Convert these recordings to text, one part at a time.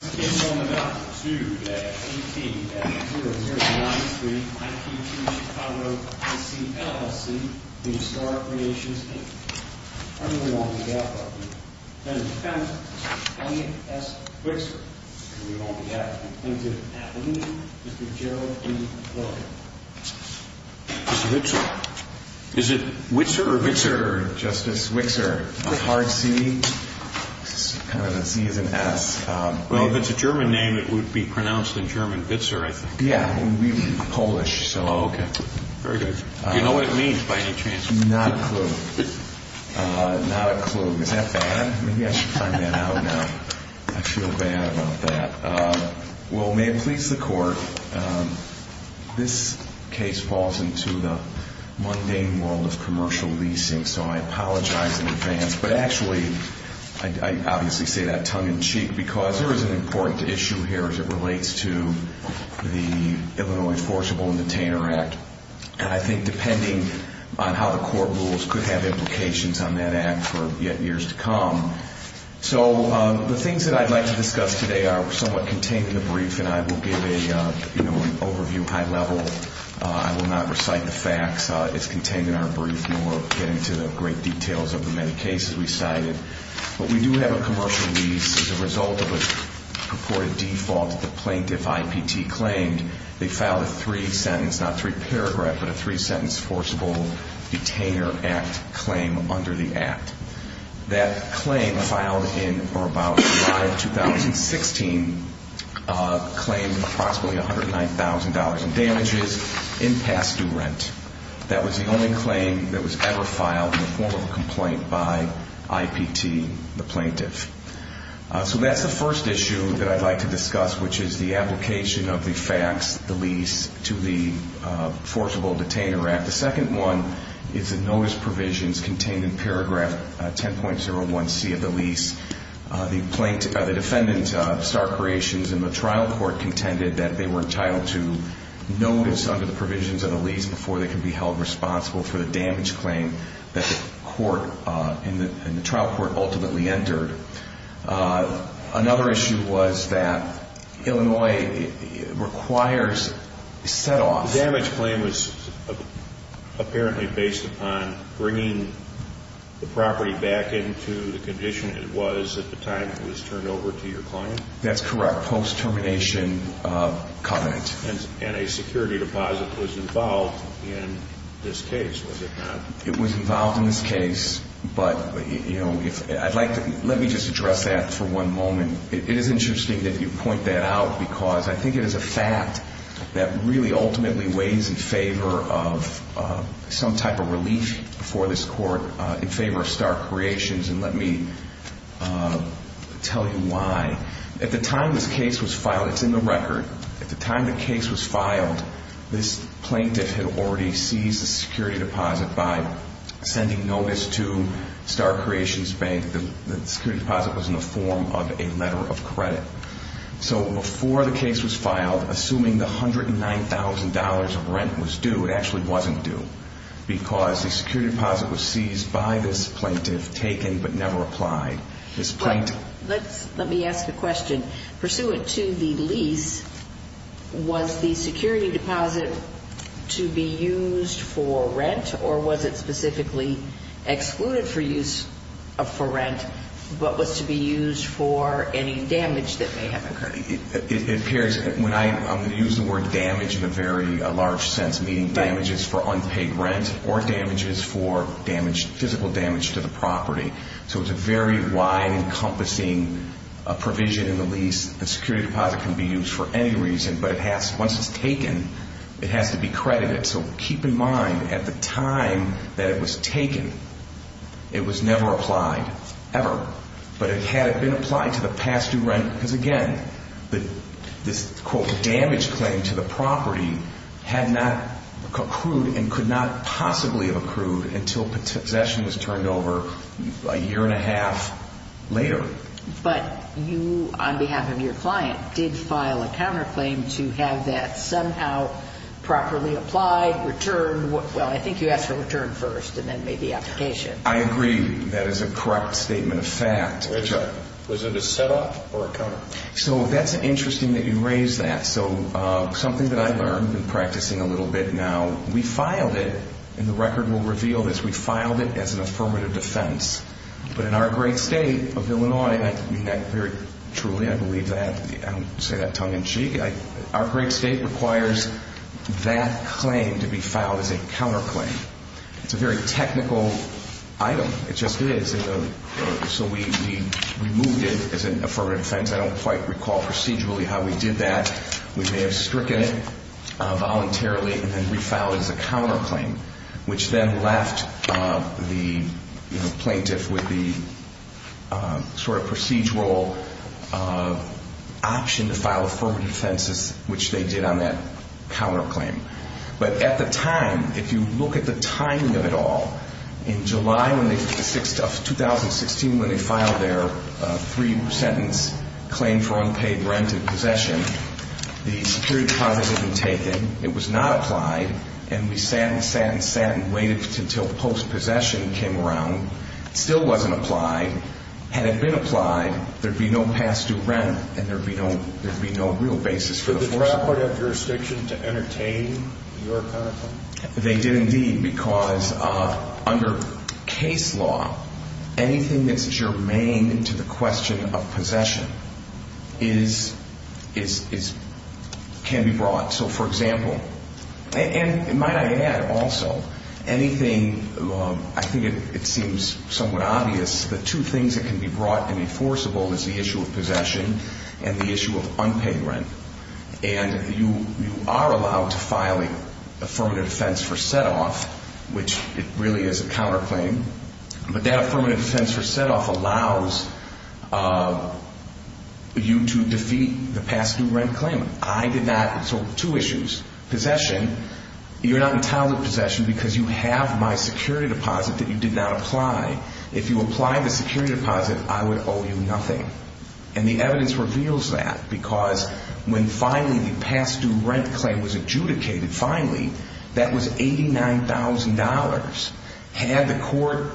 I really won't be able to help you, and in defense, Mr. Elliott S. Wixor. I really won't be able to help you. Thank you. At the meeting, Mr. Gerald E. Lillard. Mr. Wixor. Is it Witzer or Witzer, Justice Wixor? Is it hard C? It's kind of a C as in S. Well, if it's a German name, it would be pronounced in German, Witzer, I think. Yeah. Polish, so. Okay. Very good. Do you know what it means by any chance? Not a clue. Not a clue. Is that bad? Maybe I should find that out now. I feel bad about that. Well, may it please the Court, this case falls into the mundane world of commercial leasing, so I apologize in advance. But actually, I obviously say that tongue-in-cheek because there is an important issue here as it relates to the Illinois Enforceable Detainer Act. And I think depending on how the court rules could have implications on that act for years to come. So the things that I'd like to discuss today are somewhat contained in the brief, and I will give an overview, high level. I will not recite the facts. It's contained in our brief, and we'll get into the great details of the many cases we cited. But we do have a commercial lease as a result of a purported default that the plaintiff IPT claimed. They filed a three-sentence, not three-paragraph, but a three-sentence forcible detainer act claim under the act. That claim filed in or about July of 2016 claimed approximately $109,000 in damages in past due rent. That was the only claim that was ever filed in the form of a complaint by IPT, the plaintiff. So that's the first issue that I'd like to discuss, which is the application of the facts, the lease, to the Forcible Detainer Act. The second one is the notice provisions contained in paragraph 10.01c of the lease. The defendant, Star Creations, in the trial court contended that they were entitled to notice under the provisions of the lease before they could be held responsible for the damage claim that the court in the trial court ultimately entered. Another issue was that Illinois requires set-offs. The damage claim was apparently based upon bringing the property back into the condition it was at the time it was turned over to your client? That's correct, post-termination covenant. And a security deposit was involved in this case, was it not? It was involved in this case, but let me just address that for one moment. It is interesting that you point that out because I think it is a fact that really ultimately weighs in favor of some type of relief for this court in favor of Star Creations, and let me tell you why. At the time this case was filed, it's in the record. At the time the case was filed, this plaintiff had already seized the security deposit by sending notice to Star Creations Bank that the security deposit was in the form of a letter of credit. So before the case was filed, assuming the $109,000 of rent was due, it actually wasn't due because the security deposit was seized by this plaintiff, taken but never applied. Let me ask a question. Pursuant to the lease, was the security deposit to be used for rent or was it specifically excluded for use for rent but was to be used for any damage that may have occurred? It appears, when I use the word damage in a very large sense, meaning damages for unpaid rent or damages for physical damage to the property. So it's a very wide-encompassing provision in the lease. The security deposit can be used for any reason, but once it's taken, it has to be credited. So keep in mind, at the time that it was taken, it was never applied, ever. But it had been applied to the past due rent because, again, this, quote, damage claim to the property had not accrued and could not possibly have accrued until possession was turned over a year and a half later. But you, on behalf of your client, did file a counterclaim to have that somehow properly applied, returned. Well, I think you asked for return first and then maybe application. I agree. That is a correct statement of fact. Was it a setup or a counterclaim? So that's interesting that you raise that. So something that I learned in practicing a little bit now, we filed it, and the record will reveal this, we filed it as an affirmative defense. But in our great state of Illinois, I mean that very truly. I believe that. I don't say that tongue-in-cheek. Our great state requires that claim to be filed as a counterclaim. It's a very technical item. It just is. So we removed it as an affirmative defense. I don't quite recall procedurally how we did that. We may have stricken it voluntarily and then refiled it as a counterclaim, which then left the plaintiff with the sort of procedural option to file affirmative defenses, which they did on that counterclaim. But at the time, if you look at the timing of it all, in July of 2016 when they filed their three-sentence claim for unpaid rent and possession, the security process had been taken. It was not applied. And we sat and sat and sat and waited until post-possession came around. It still wasn't applied. Had it been applied, there would be no past-due rent and there would be no real basis for the foreclosure. Did the court have jurisdiction to entertain your counterclaim? They did, indeed, because under case law, anything that's germane to the question of possession can be brought. So, for example, and might I add also, anything – I think it seems somewhat obvious that two things that can be brought and enforceable is the issue of possession and the issue of unpaid rent. And you are allowed to file an affirmative defense for set-off, which it really is a counterclaim. But that affirmative defense for set-off allows you to defeat the past-due rent claim. I did not – so two issues. Possession – you're not entitled to possession because you have my security deposit that you did not apply. If you apply the security deposit, I would owe you nothing. And the evidence reveals that because when finally the past-due rent claim was adjudicated, finally, that was $89,000. Had the court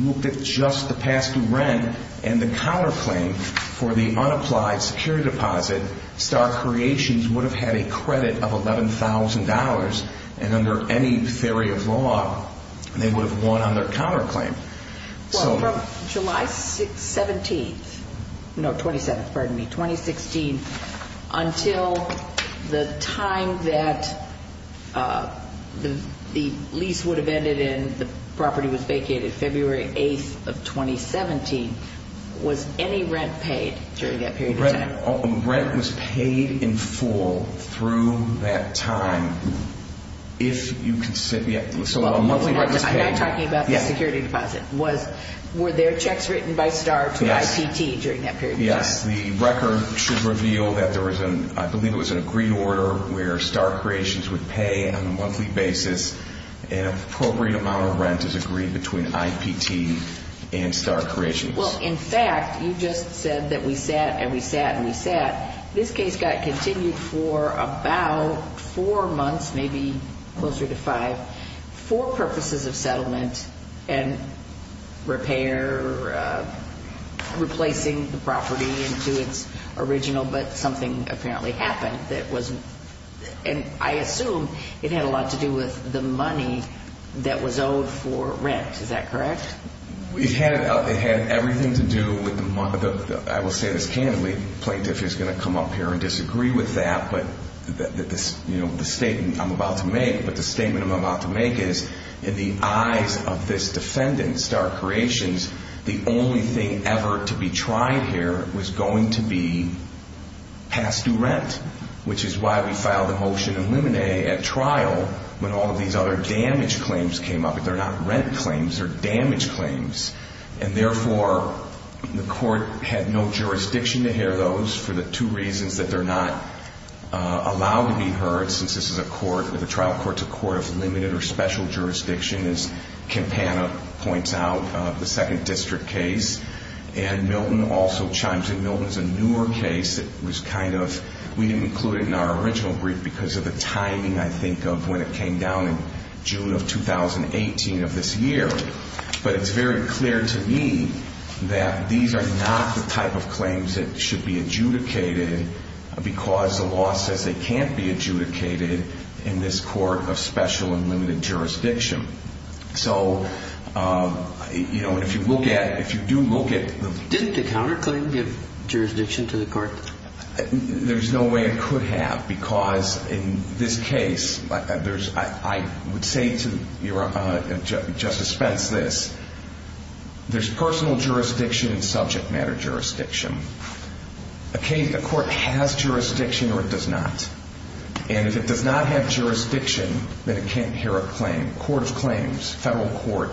looked at just the past-due rent and the counterclaim for the unapplied security deposit, Star Creations would have had a credit of $11,000. And under any theory of law, they would have won on their counterclaim. Well, from July 17th – no, 27th, pardon me, 2016, until the time that the lease would have ended and the property was vacated, February 8th of 2017, was any rent paid during that period of time? Rent was paid in full through that time if you – so a monthly rent was paid. I'm not talking about the security deposit. Were there checks written by Star to IPT during that period of time? Yes. The record should reveal that there was an – I believe it was an agreed order where Star Creations would pay on a monthly basis an appropriate amount of rent as agreed between IPT and Star Creations. Well, in fact, you just said that we sat and we sat and we sat. This case got continued for about four months, maybe closer to five, for purposes of settlement and repair, replacing the property into its original, but something apparently happened that wasn't – and I assume it had a lot to do with the money that was owed for rent. Is that correct? It had everything to do with the – I will say this candidly, the plaintiff is going to come up here and disagree with that, but the statement I'm about to make is in the eyes of this defendant, Star Creations, the only thing ever to be tried here was going to be past due rent, which is why we filed a motion in Luminae at trial when all of these other damage claims came up. But they're not rent claims, they're damage claims. And therefore, the court had no jurisdiction to hear those for the two reasons that they're not allowed to be heard since this is a court – the trial court's a court of limited or special jurisdiction, as Campana points out, the second district case. And Milton also chimes in. Milton's a newer case that was kind of – we didn't include it in our original brief because of the timing, I think, of when it came down in June of 2018 of this year. But it's very clear to me that these are not the type of claims that should be adjudicated because the law says they can't be adjudicated in this court of special and limited jurisdiction. So, you know, if you look at – if you do look at – Didn't the counterclaim give jurisdiction to the court? There's no way it could have because in this case, there's – I would say to Justice Spence this. There's personal jurisdiction and subject matter jurisdiction. A case – a court has jurisdiction or it does not. And if it does not have jurisdiction, then it can't hear a claim – court of claims, federal court.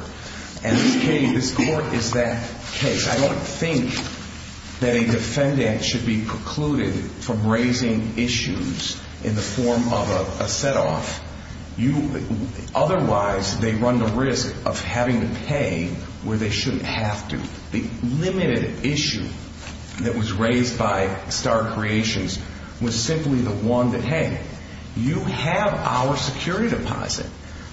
And this case – this court is that case. I don't think that a defendant should be precluded from raising issues in the form of a setoff. Otherwise, they run the risk of having to pay where they shouldn't have to. The limited issue that was raised by Star Creations was simply the one that, hey, you have our security deposit.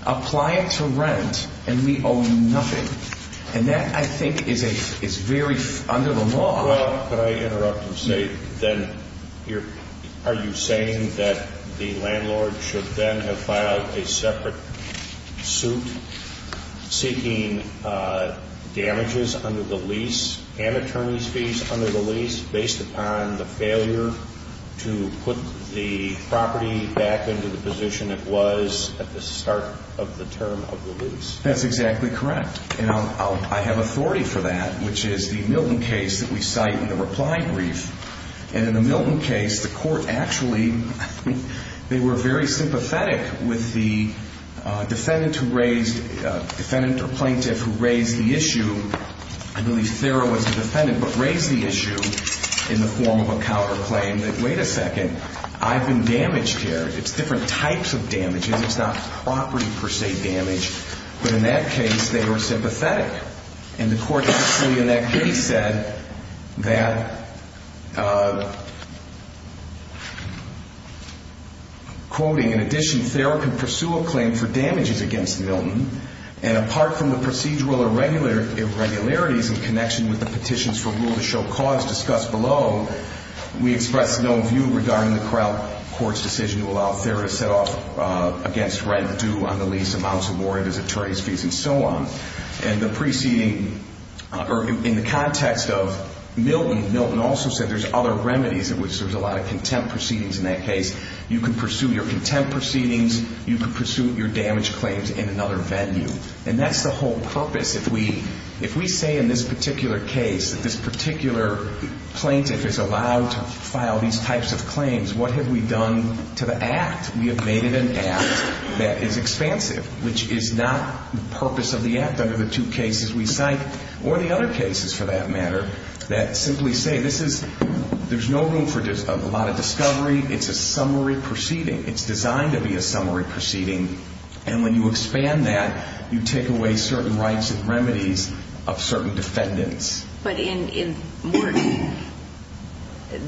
Apply it to rent and we owe you nothing. And that, I think, is a – is very under the law. Well, could I interrupt and say then you're – are you saying that the landlord should then have filed a separate suit seeking damages under the lease and attorney's fees under the lease based upon the failure to put the property back into the position it was at the start of the term of the lease? That's exactly correct. And I'll – I have authority for that, which is the Milton case that we cite in the reply brief. And in the Milton case, the court actually – they were very sympathetic with the defendant who raised – defendant or plaintiff who raised the issue. I believe Thera was the defendant, but raised the issue in the form of a counterclaim that, wait a second, I've been damaged here. It's different types of damages. It's not property, per se, damage. But in that case, they were sympathetic. And the court actually in that case said that, quoting, in addition, Thera can pursue a claim for damages against Milton. And apart from the procedural irregularities in connection with the petitions for rule to show cause discussed below, we expressed no view regarding the court's decision to allow Thera to set off against rent due on the lease, amounts awarded as attorney's fees, and so on. And the preceding – or in the context of Milton, Milton also said there's other remedies in which there's a lot of contempt proceedings in that case. You can pursue your contempt proceedings. You can pursue your damage claims in another venue. And that's the whole purpose. If we – if we say in this particular case that this particular plaintiff is allowed to file these types of claims, what have we done to the act? We have made it an act that is expansive, which is not the purpose of the act under the two cases we cite, or the other cases, for that matter, that simply say this is – there's no room for a lot of discovery. It's a summary proceeding. It's designed to be a summary proceeding. And when you expand that, you take away certain rights and remedies of certain defendants. But in –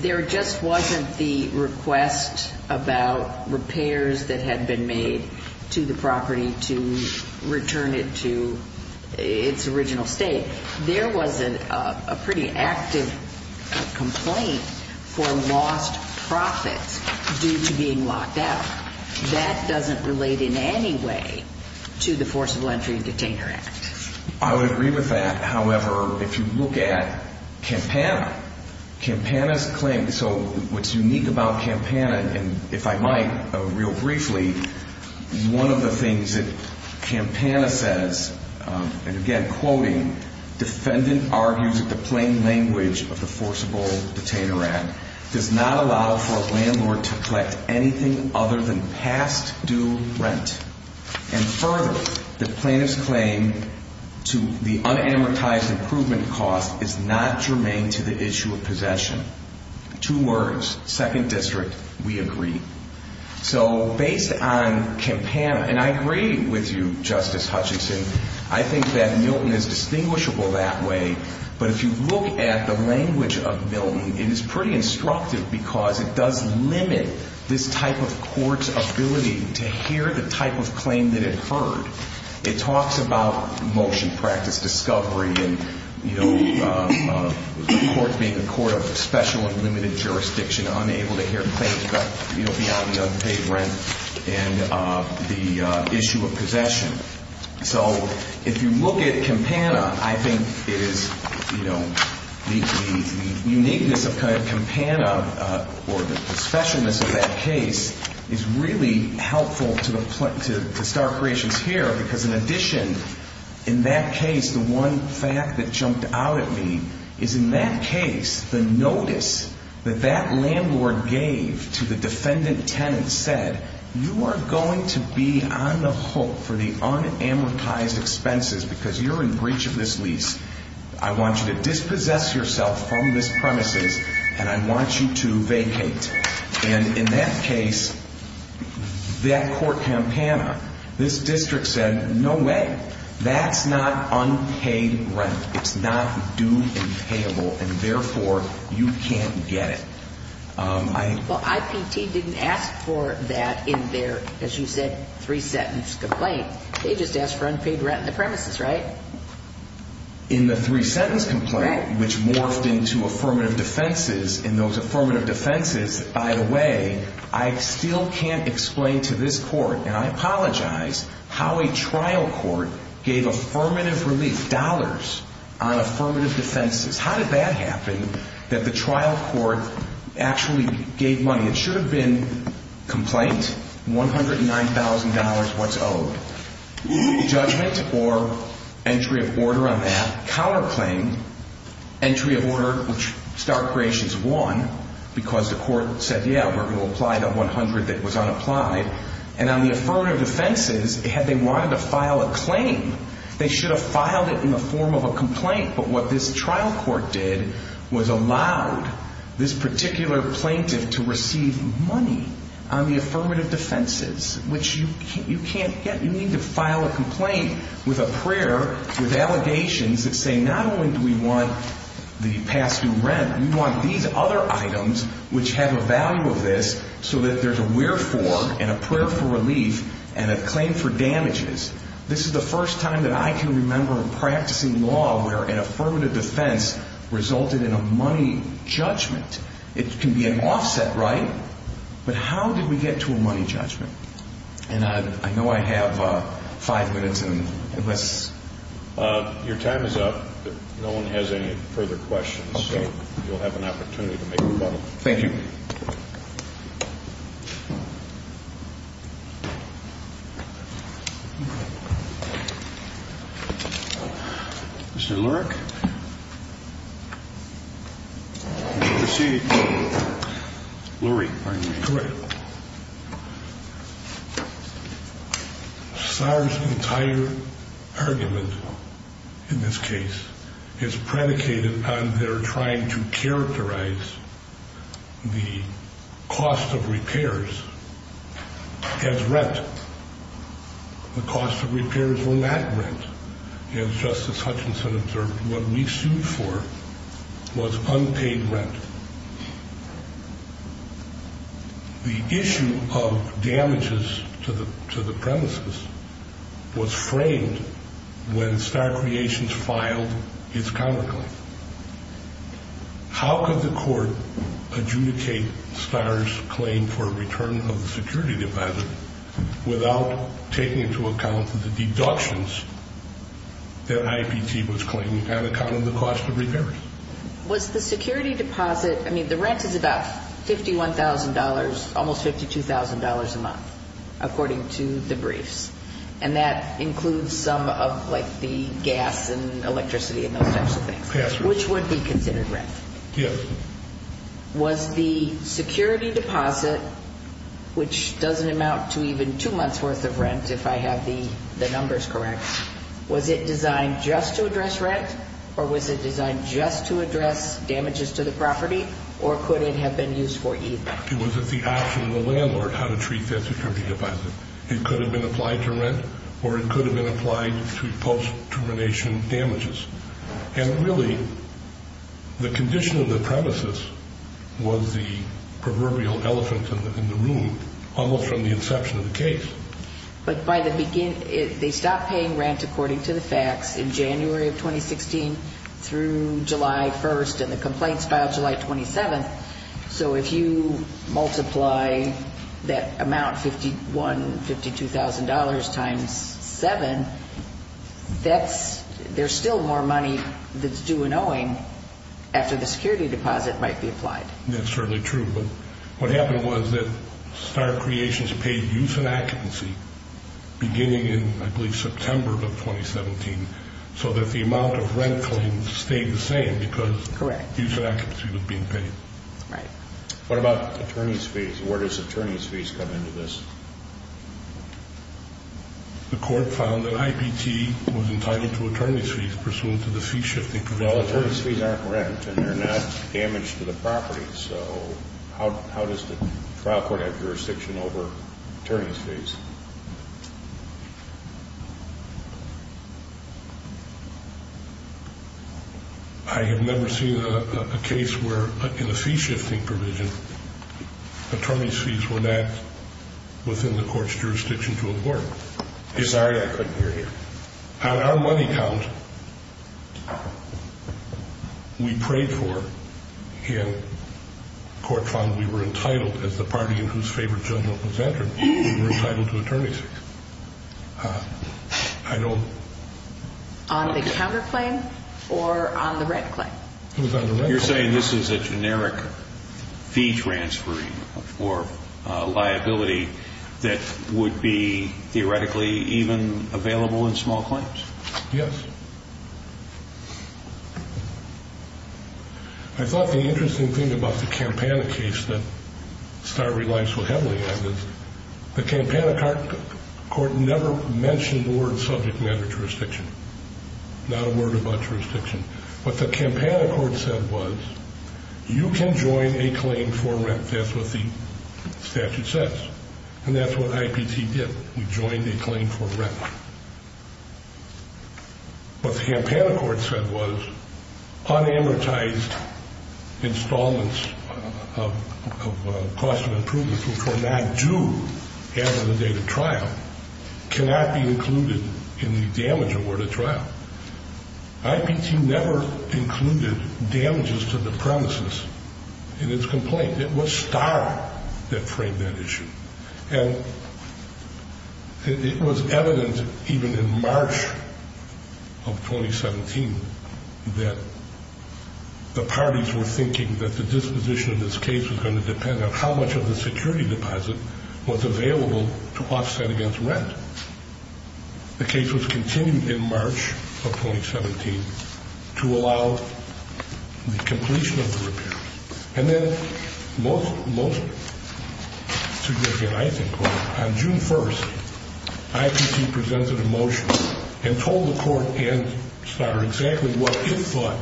there just wasn't the request about repairs that had been made to the property to return it to its original state. There was a pretty active complaint for lost profits due to being locked out. That doesn't relate in any way to the Forcible Entry and Detainer Act. I would agree with that. However, if you look at Campana, Campana's claim – so what's unique about Campana, and if I might, real briefly, one of the things that Campana says, and again, quoting, defendant argues that the plain language of the Forcible Detainer Act does not allow for a landlord to collect anything other than past due rent. And further, the plaintiff's claim to the unamortized improvement cost is not germane to the issue of possession. Two words, second district, we agree. So based on Campana – and I agree with you, Justice Hutchinson. I think that Milton is distinguishable that way. But if you look at the language of Milton, it is pretty instructive because it does limit this type of court's ability to hear the type of claim that it heard. It talks about motion practice discovery and the court being a court of special and limited jurisdiction, unable to hear claims beyond the unpaid rent, and the issue of possession. So if you look at Campana, I think it is, you know, the uniqueness of Campana or the specialness of that case is really helpful to start creations here because in addition, in that case, the one fact that jumped out at me is in that case, the notice that that landlord gave to the defendant tenant said, you are going to be on the hook for the unamortized expenses because you're in breach of this lease. I want you to dispossess yourself from this premises and I want you to vacate. And in that case, that court, Campana, this district said, no way. That's not unpaid rent. It's not due and payable and therefore you can't get it. Well, IPT didn't ask for that in their, as you said, three sentence complaint. They just asked for unpaid rent in the premises, right? In the three sentence complaint, which morphed into affirmative defenses in those affirmative defenses, by the way, I still can't explain to this court, and I apologize, how a trial court gave affirmative relief dollars on affirmative defenses. How did that happen that the trial court actually gave money? It should have been complaint, $109,000 what's owed, judgment or entry of order on that, counterclaim, entry of order, which Start Creations won because the court said, yeah, we're going to apply that $100,000 that was unapplied. And on the affirmative defenses, had they wanted to file a claim, they should have filed it in the form of a complaint. But what this trial court did was allowed this particular plaintiff to receive money on the affirmative defenses, which you can't get. You need to file a complaint with a prayer, with allegations that say not only do we want the past due rent, we want these other items which have a value of this so that there's a wherefore and a prayer for relief and a claim for damages. This is the first time that I can remember practicing law where an affirmative defense resulted in a money judgment. It can be an offset, right? But how did we get to a money judgment? And I know I have five minutes. And unless your time is up, no one has any further questions, you'll have an opportunity to make a rebuttal. Thank you. Mr. Lurie. Sorry. Entire argument in this case is predicated on their trying to characterize the cost of repairs. The issue of damages to the premises was framed when Star Creations filed its counterclaim. How could the court adjudicate Star's claim for a return of the security deposit without taking into account the deductions that IPT was claiming on account of the cost of repairs? Was the security deposit, I mean, the rent is about $51,000, almost $52,000 a month, according to the briefs. And that includes some of like the gas and electricity and those types of things, which would be considered rent. Was the security deposit, which doesn't amount to even two months worth of rent, if I have the numbers correct, was it designed just to address rent? Or was it designed just to address damages to the property? Or could it have been used for either? It was at the option of the landlord how to treat that security deposit. It could have been applied to rent, or it could have been applied to post-termination damages. And really, the condition of the premises was the proverbial elephant in the room, almost from the inception of the case. But by the beginning, they stopped paying rent according to the facts in January of 2016 through July 1st, and the complaints filed July 27th. So if you multiply that amount, $51,000, $52,000 times seven, there's still more money that's due in owing after the security deposit might be applied. That's certainly true. But what happened was that Star Creations paid use and occupancy beginning in, I believe, September of 2017, so that the amount of rent claims stayed the same because use and occupancy was being paid. Right. What about attorney's fees? Where does attorney's fees come into this? The court found that IPT was entitled to attorney's fees pursuant to the fee-shifting provision. Well, attorney's fees aren't rent, and they're not damage to the property. So how does the trial court have jurisdiction over attorney's fees? I have never seen a case where, in a fee-shifting provision, attorney's fees were not within the court's jurisdiction to award. Sorry, I couldn't hear you. On the counterclaim or on the rent claim? It was on the rent claim. You're saying this is a generic fee transferring or liability that would be theoretically even available in small claims? Yes. I thought the interesting thing about the Campana case that Star relied so heavily on is the Campana court never mentioned the word subject matter jurisdiction, not a word about jurisdiction. What the Campana court said was, you can join a claim for rent. That's what the statute says. And that's what IPT did. We joined a claim for rent. What the Campana court said was, unamortized installments of cost of improvements which were not due after the date of trial cannot be included in the damage award of trial. IPT never included damages to the premises in its complaint. It was Star that framed that issue. And it was evident even in March of 2017 that the parties were thinking that the disposition of this case was going to depend on how much of the security deposit was available to offset against rent. The case was continued in March of 2017 to allow the completion of the repair. And then most significant, I think, on June 1st, IPT presented a motion and told the court and Star exactly what it thought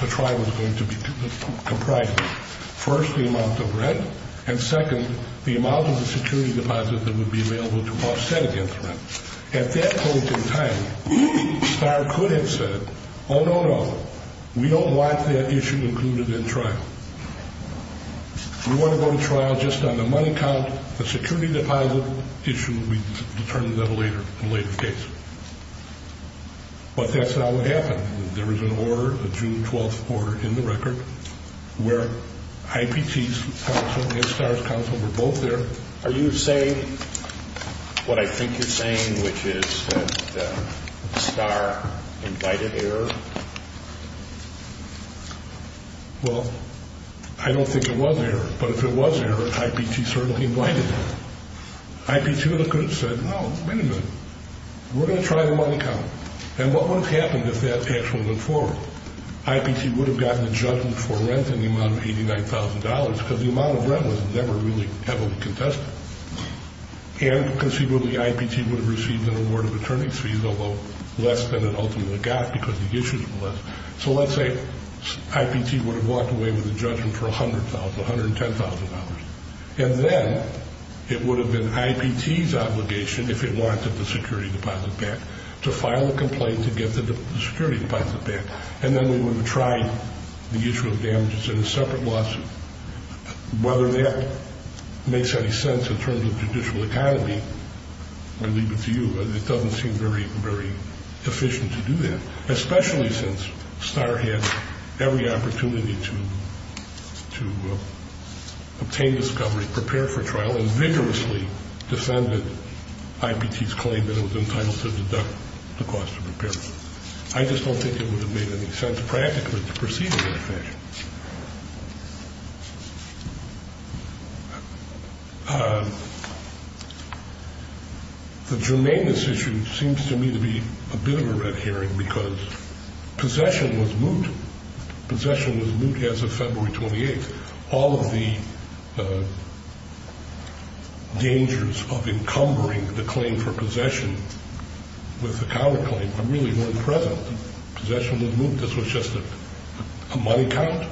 the trial was going to comprise of. First, the amount of rent. And second, the amount of the security deposit that would be available to offset against rent. At that point in time, Star could have said, oh, no, no. We don't want that issue included in trial. We want to go to trial just on the money count. The security deposit issue will be determined in a later case. But that's not what happened. There was an order, a June 12th order, in the record where IPT's counsel and Star's counsel were both there. Are you saying what I think you're saying, which is that Star invited error? Well, I don't think it was error. But if it was error, IPT certainly invited it. IPT would have said, oh, wait a minute. We're going to try the money count. And what would have happened if that actually went forward? IPT would have gotten a judgment for rent in the amount of $89,000 because the amount of rent was never really heavily contested. And conceivably, IPT would have received an award of attorney's fees, although less than it ultimately got because the issues were less. So let's say IPT would have walked away with a judgment for $100,000, $110,000. And then it would have been IPT's obligation, if it wanted the security deposit back, to file a complaint to get the security deposit back. And then we would have tried the issue of damages in a separate lawsuit. Whether that makes any sense in terms of judicial economy, I leave it to you. It doesn't seem very efficient to do that, especially since Star had every opportunity to obtain discovery, prepare for trial, and vigorously defended IPT's claim that it was entitled to deduct the cost of repair. I just don't think it would have made any sense practically to proceed in that fashion. The germaneness issue seems to me to be a bit of a red herring because possession was moot. Possession was moot as of February 28th. All of the dangers of encumbering the claim for possession with a counterclaim are really non-present. Possession was moot. This was just a money count,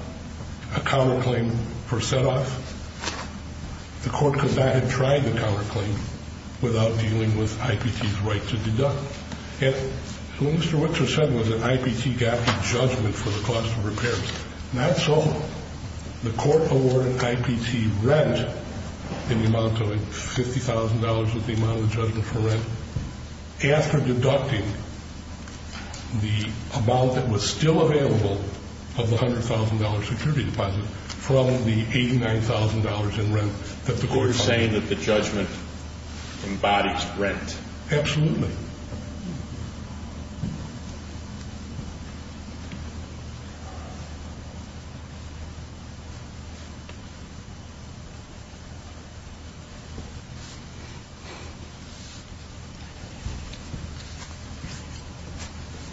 a counterclaim for set-off. The court could not have tried the counterclaim without dealing with IPT's right to deduct. And what Mr. Whitzer said was an IPT gap in judgment for the cost of repairs. Not so. The court awarded IPT rent in the amount of $50,000 of the amount of judgment for rent. After deducting the amount that was still available of the $100,000 security deposit from the $89,000 in rent, the court is saying that the judgment embodies rent. Absolutely. Thank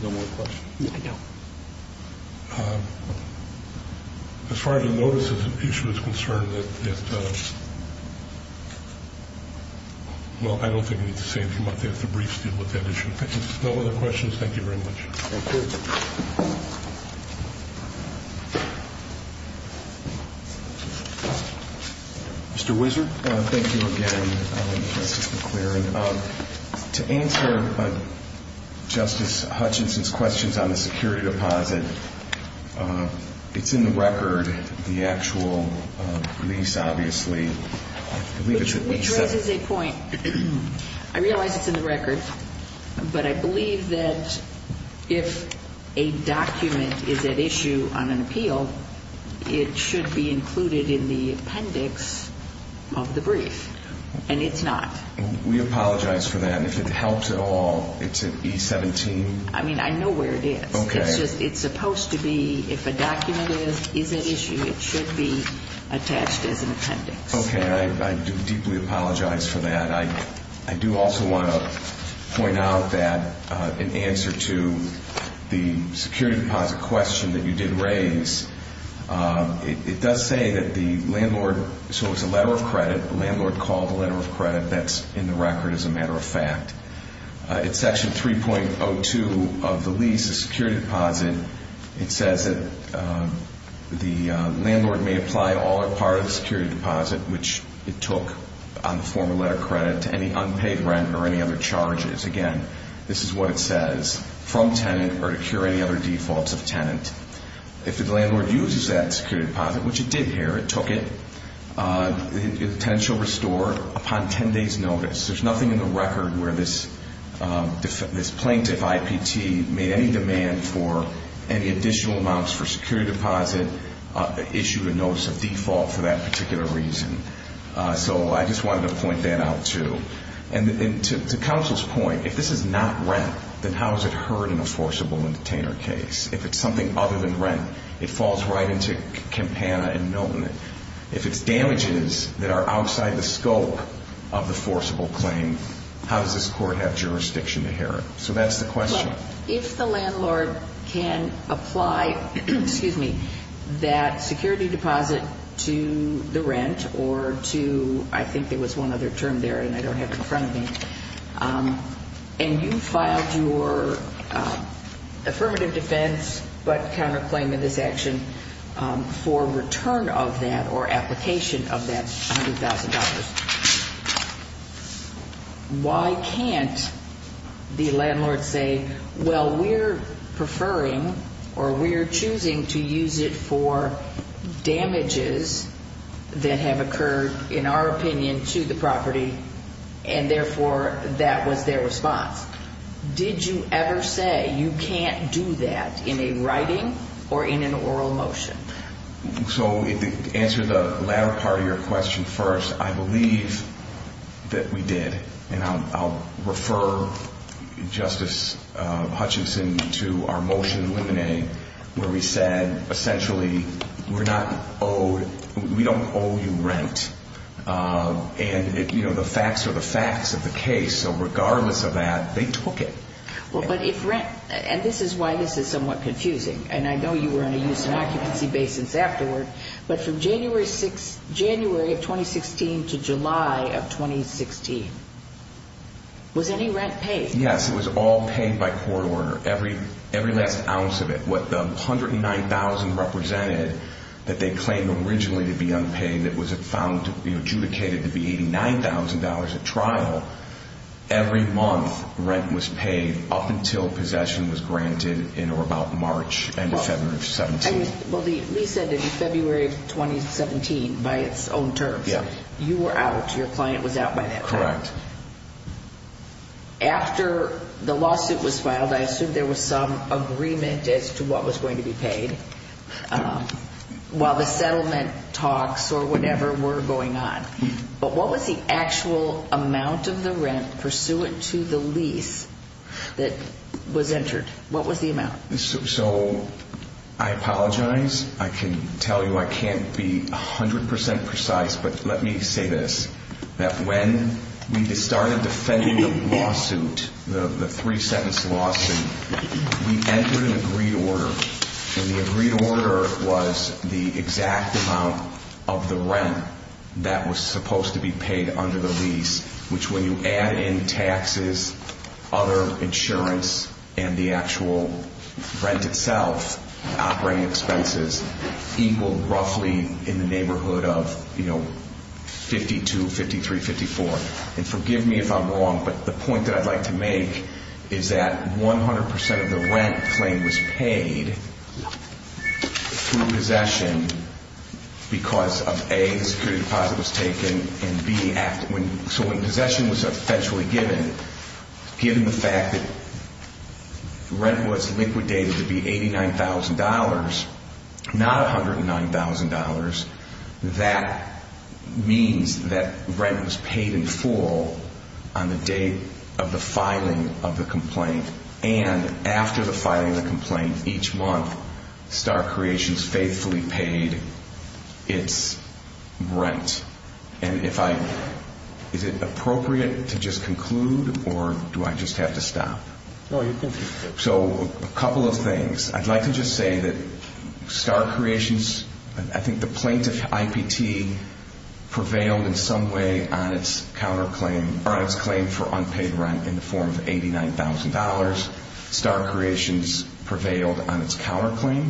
you. No more questions? No. As far as the notice of the issue is concerned, well, I don't think I need to say anything about that. The briefs deal with that issue. No other questions. Thank you very much. Thank you. Mr. Whitzer. Thank you again, Justice McLeary. To answer Justice Hutchinson's questions on the security deposit, it's in the record, the actual lease, obviously. Which raises a point. I realize it's in the record, but I believe that if a document is at issue on an appeal, it should be included in the appendix of the brief. And it's not. We apologize for that. And if it helps at all, it's an E17? I mean, I know where it is. Okay. It's supposed to be, if a document is at issue, it should be attached as an appendix. Okay. I do deeply apologize for that. I do also want to point out that in answer to the security deposit question that you did raise, it does say that the landlord, so it's a letter of credit. The landlord called the letter of credit. That's in the record as a matter of fact. It's section 3.02 of the lease, the security deposit. It says that the landlord may apply all or part of the security deposit, which it took on the form of letter of credit, to any unpaid rent or any other charges. Again, this is what it says. From tenant or to cure any other defaults of tenant. If the landlord uses that security deposit, which it did here, it took it, the tenant shall restore upon 10 days notice. There's nothing in the record where this plaintiff, IPT, made any demand for any additional amounts for security deposit, issued a notice of default for that particular reason. So I just wanted to point that out too. And to counsel's point, if this is not rent, then how is it heard in a forcible and detainer case? If it's something other than rent, it falls right into Campana and Milton. If it's damages that are outside the scope of the forcible claim, how does this court have jurisdiction to hear it? So that's the question. If the landlord can apply, excuse me, that security deposit to the rent or to, I think there was one other term there and I don't have it in front of me, and you filed your affirmative defense but counterclaim in this action for return of that or application of that $100,000, why can't the landlord say, well, we're preferring or we're choosing to use it for damages that have occurred in our opinion to the property and therefore that was their response. Did you ever say you can't do that in a writing or in an oral motion? So to answer the latter part of your question first, I believe that we did. And I'll refer Justice Hutchinson to our motion in Limine where we said essentially we're not owed, we don't owe you rent. And, you know, the facts are the facts of the case. So regardless of that, they took it. Well, but if rent, and this is why this is somewhat confusing, and I know you were going to use an occupancy basis afterward, but from January of 2016 to July of 2016, was any rent paid? Yes, it was all paid by court order, every last ounce of it. What the $109,000 represented that they claimed originally to be unpaid that was found to be adjudicated to be $89,000 at trial, every month rent was paid up until possession was granted in or about March, end of February of 2017. Well, the lease ended in February of 2017 by its own terms. Yes. You were out, your client was out by that point. Correct. After the lawsuit was filed, I assume there was some agreement as to what was going to be paid while the settlement talks or whatever were going on. But what was the actual amount of the rent pursuant to the lease that was entered? What was the amount? So I apologize. I can tell you I can't be 100% precise, but let me say this, that when we started defending the lawsuit, the three-sentence lawsuit, we entered an agreed order, and the agreed order was the exact amount of the rent that was supposed to be paid under the lease, which when you add in taxes, other insurance, and the actual rent itself, operating expenses, equaled roughly in the neighborhood of $52,000, $53,000, $54,000. And forgive me if I'm wrong, but the point that I'd like to make is that 100% of the rent claim was paid through possession because of, A, the security deposit was taken, and B, so when possession was essentially given, given the fact that rent was liquidated to be $89,000, not $109,000, that means that rent was paid in full on the date of the filing of the complaint. And after the filing of the complaint, each month, Star Creations faithfully paid its rent. And if I, is it appropriate to just conclude, or do I just have to stop? No, you can just conclude. So a couple of things. I'd like to just say that Star Creations, I think the plaintiff, IPT, prevailed in some way on its counterclaim, or on its claim for unpaid rent in the form of $89,000. Star Creations prevailed on its counterclaim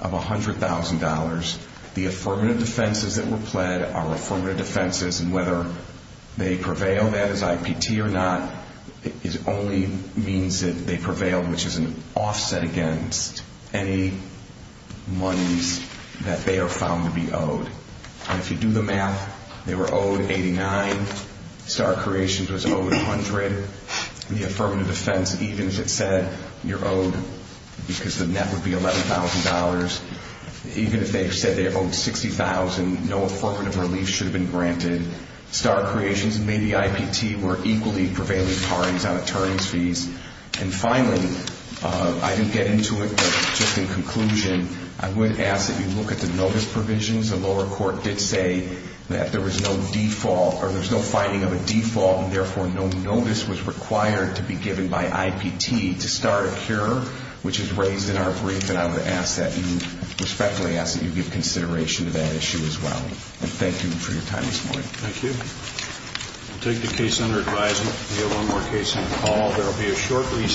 of $100,000. The affirmative defenses that were pled are affirmative defenses, and whether they prevail, that is IPT or not, it only means that they prevailed, which is an offset against any monies that they are found to be owed. And if you do the math, they were owed $89,000. Star Creations was owed $100,000. The affirmative defense, even if it said you're owed because the net would be $11,000, even if they said they're owed $60,000, no affirmative relief should have been granted. Star Creations and maybe IPT were equally prevailing parties on attorneys' fees. And finally, I didn't get into it, but just in conclusion, I would ask that you look at the notice provisions. The lower court did say that there was no default, or there's no finding of a default, and therefore no notice was required to be given by IPT to start a cure, which is raised in our brief, and I respectfully ask that you give consideration to that issue as well. And thank you for your time this morning. Thank you. We'll take the case under advisement. We have one more case on the call.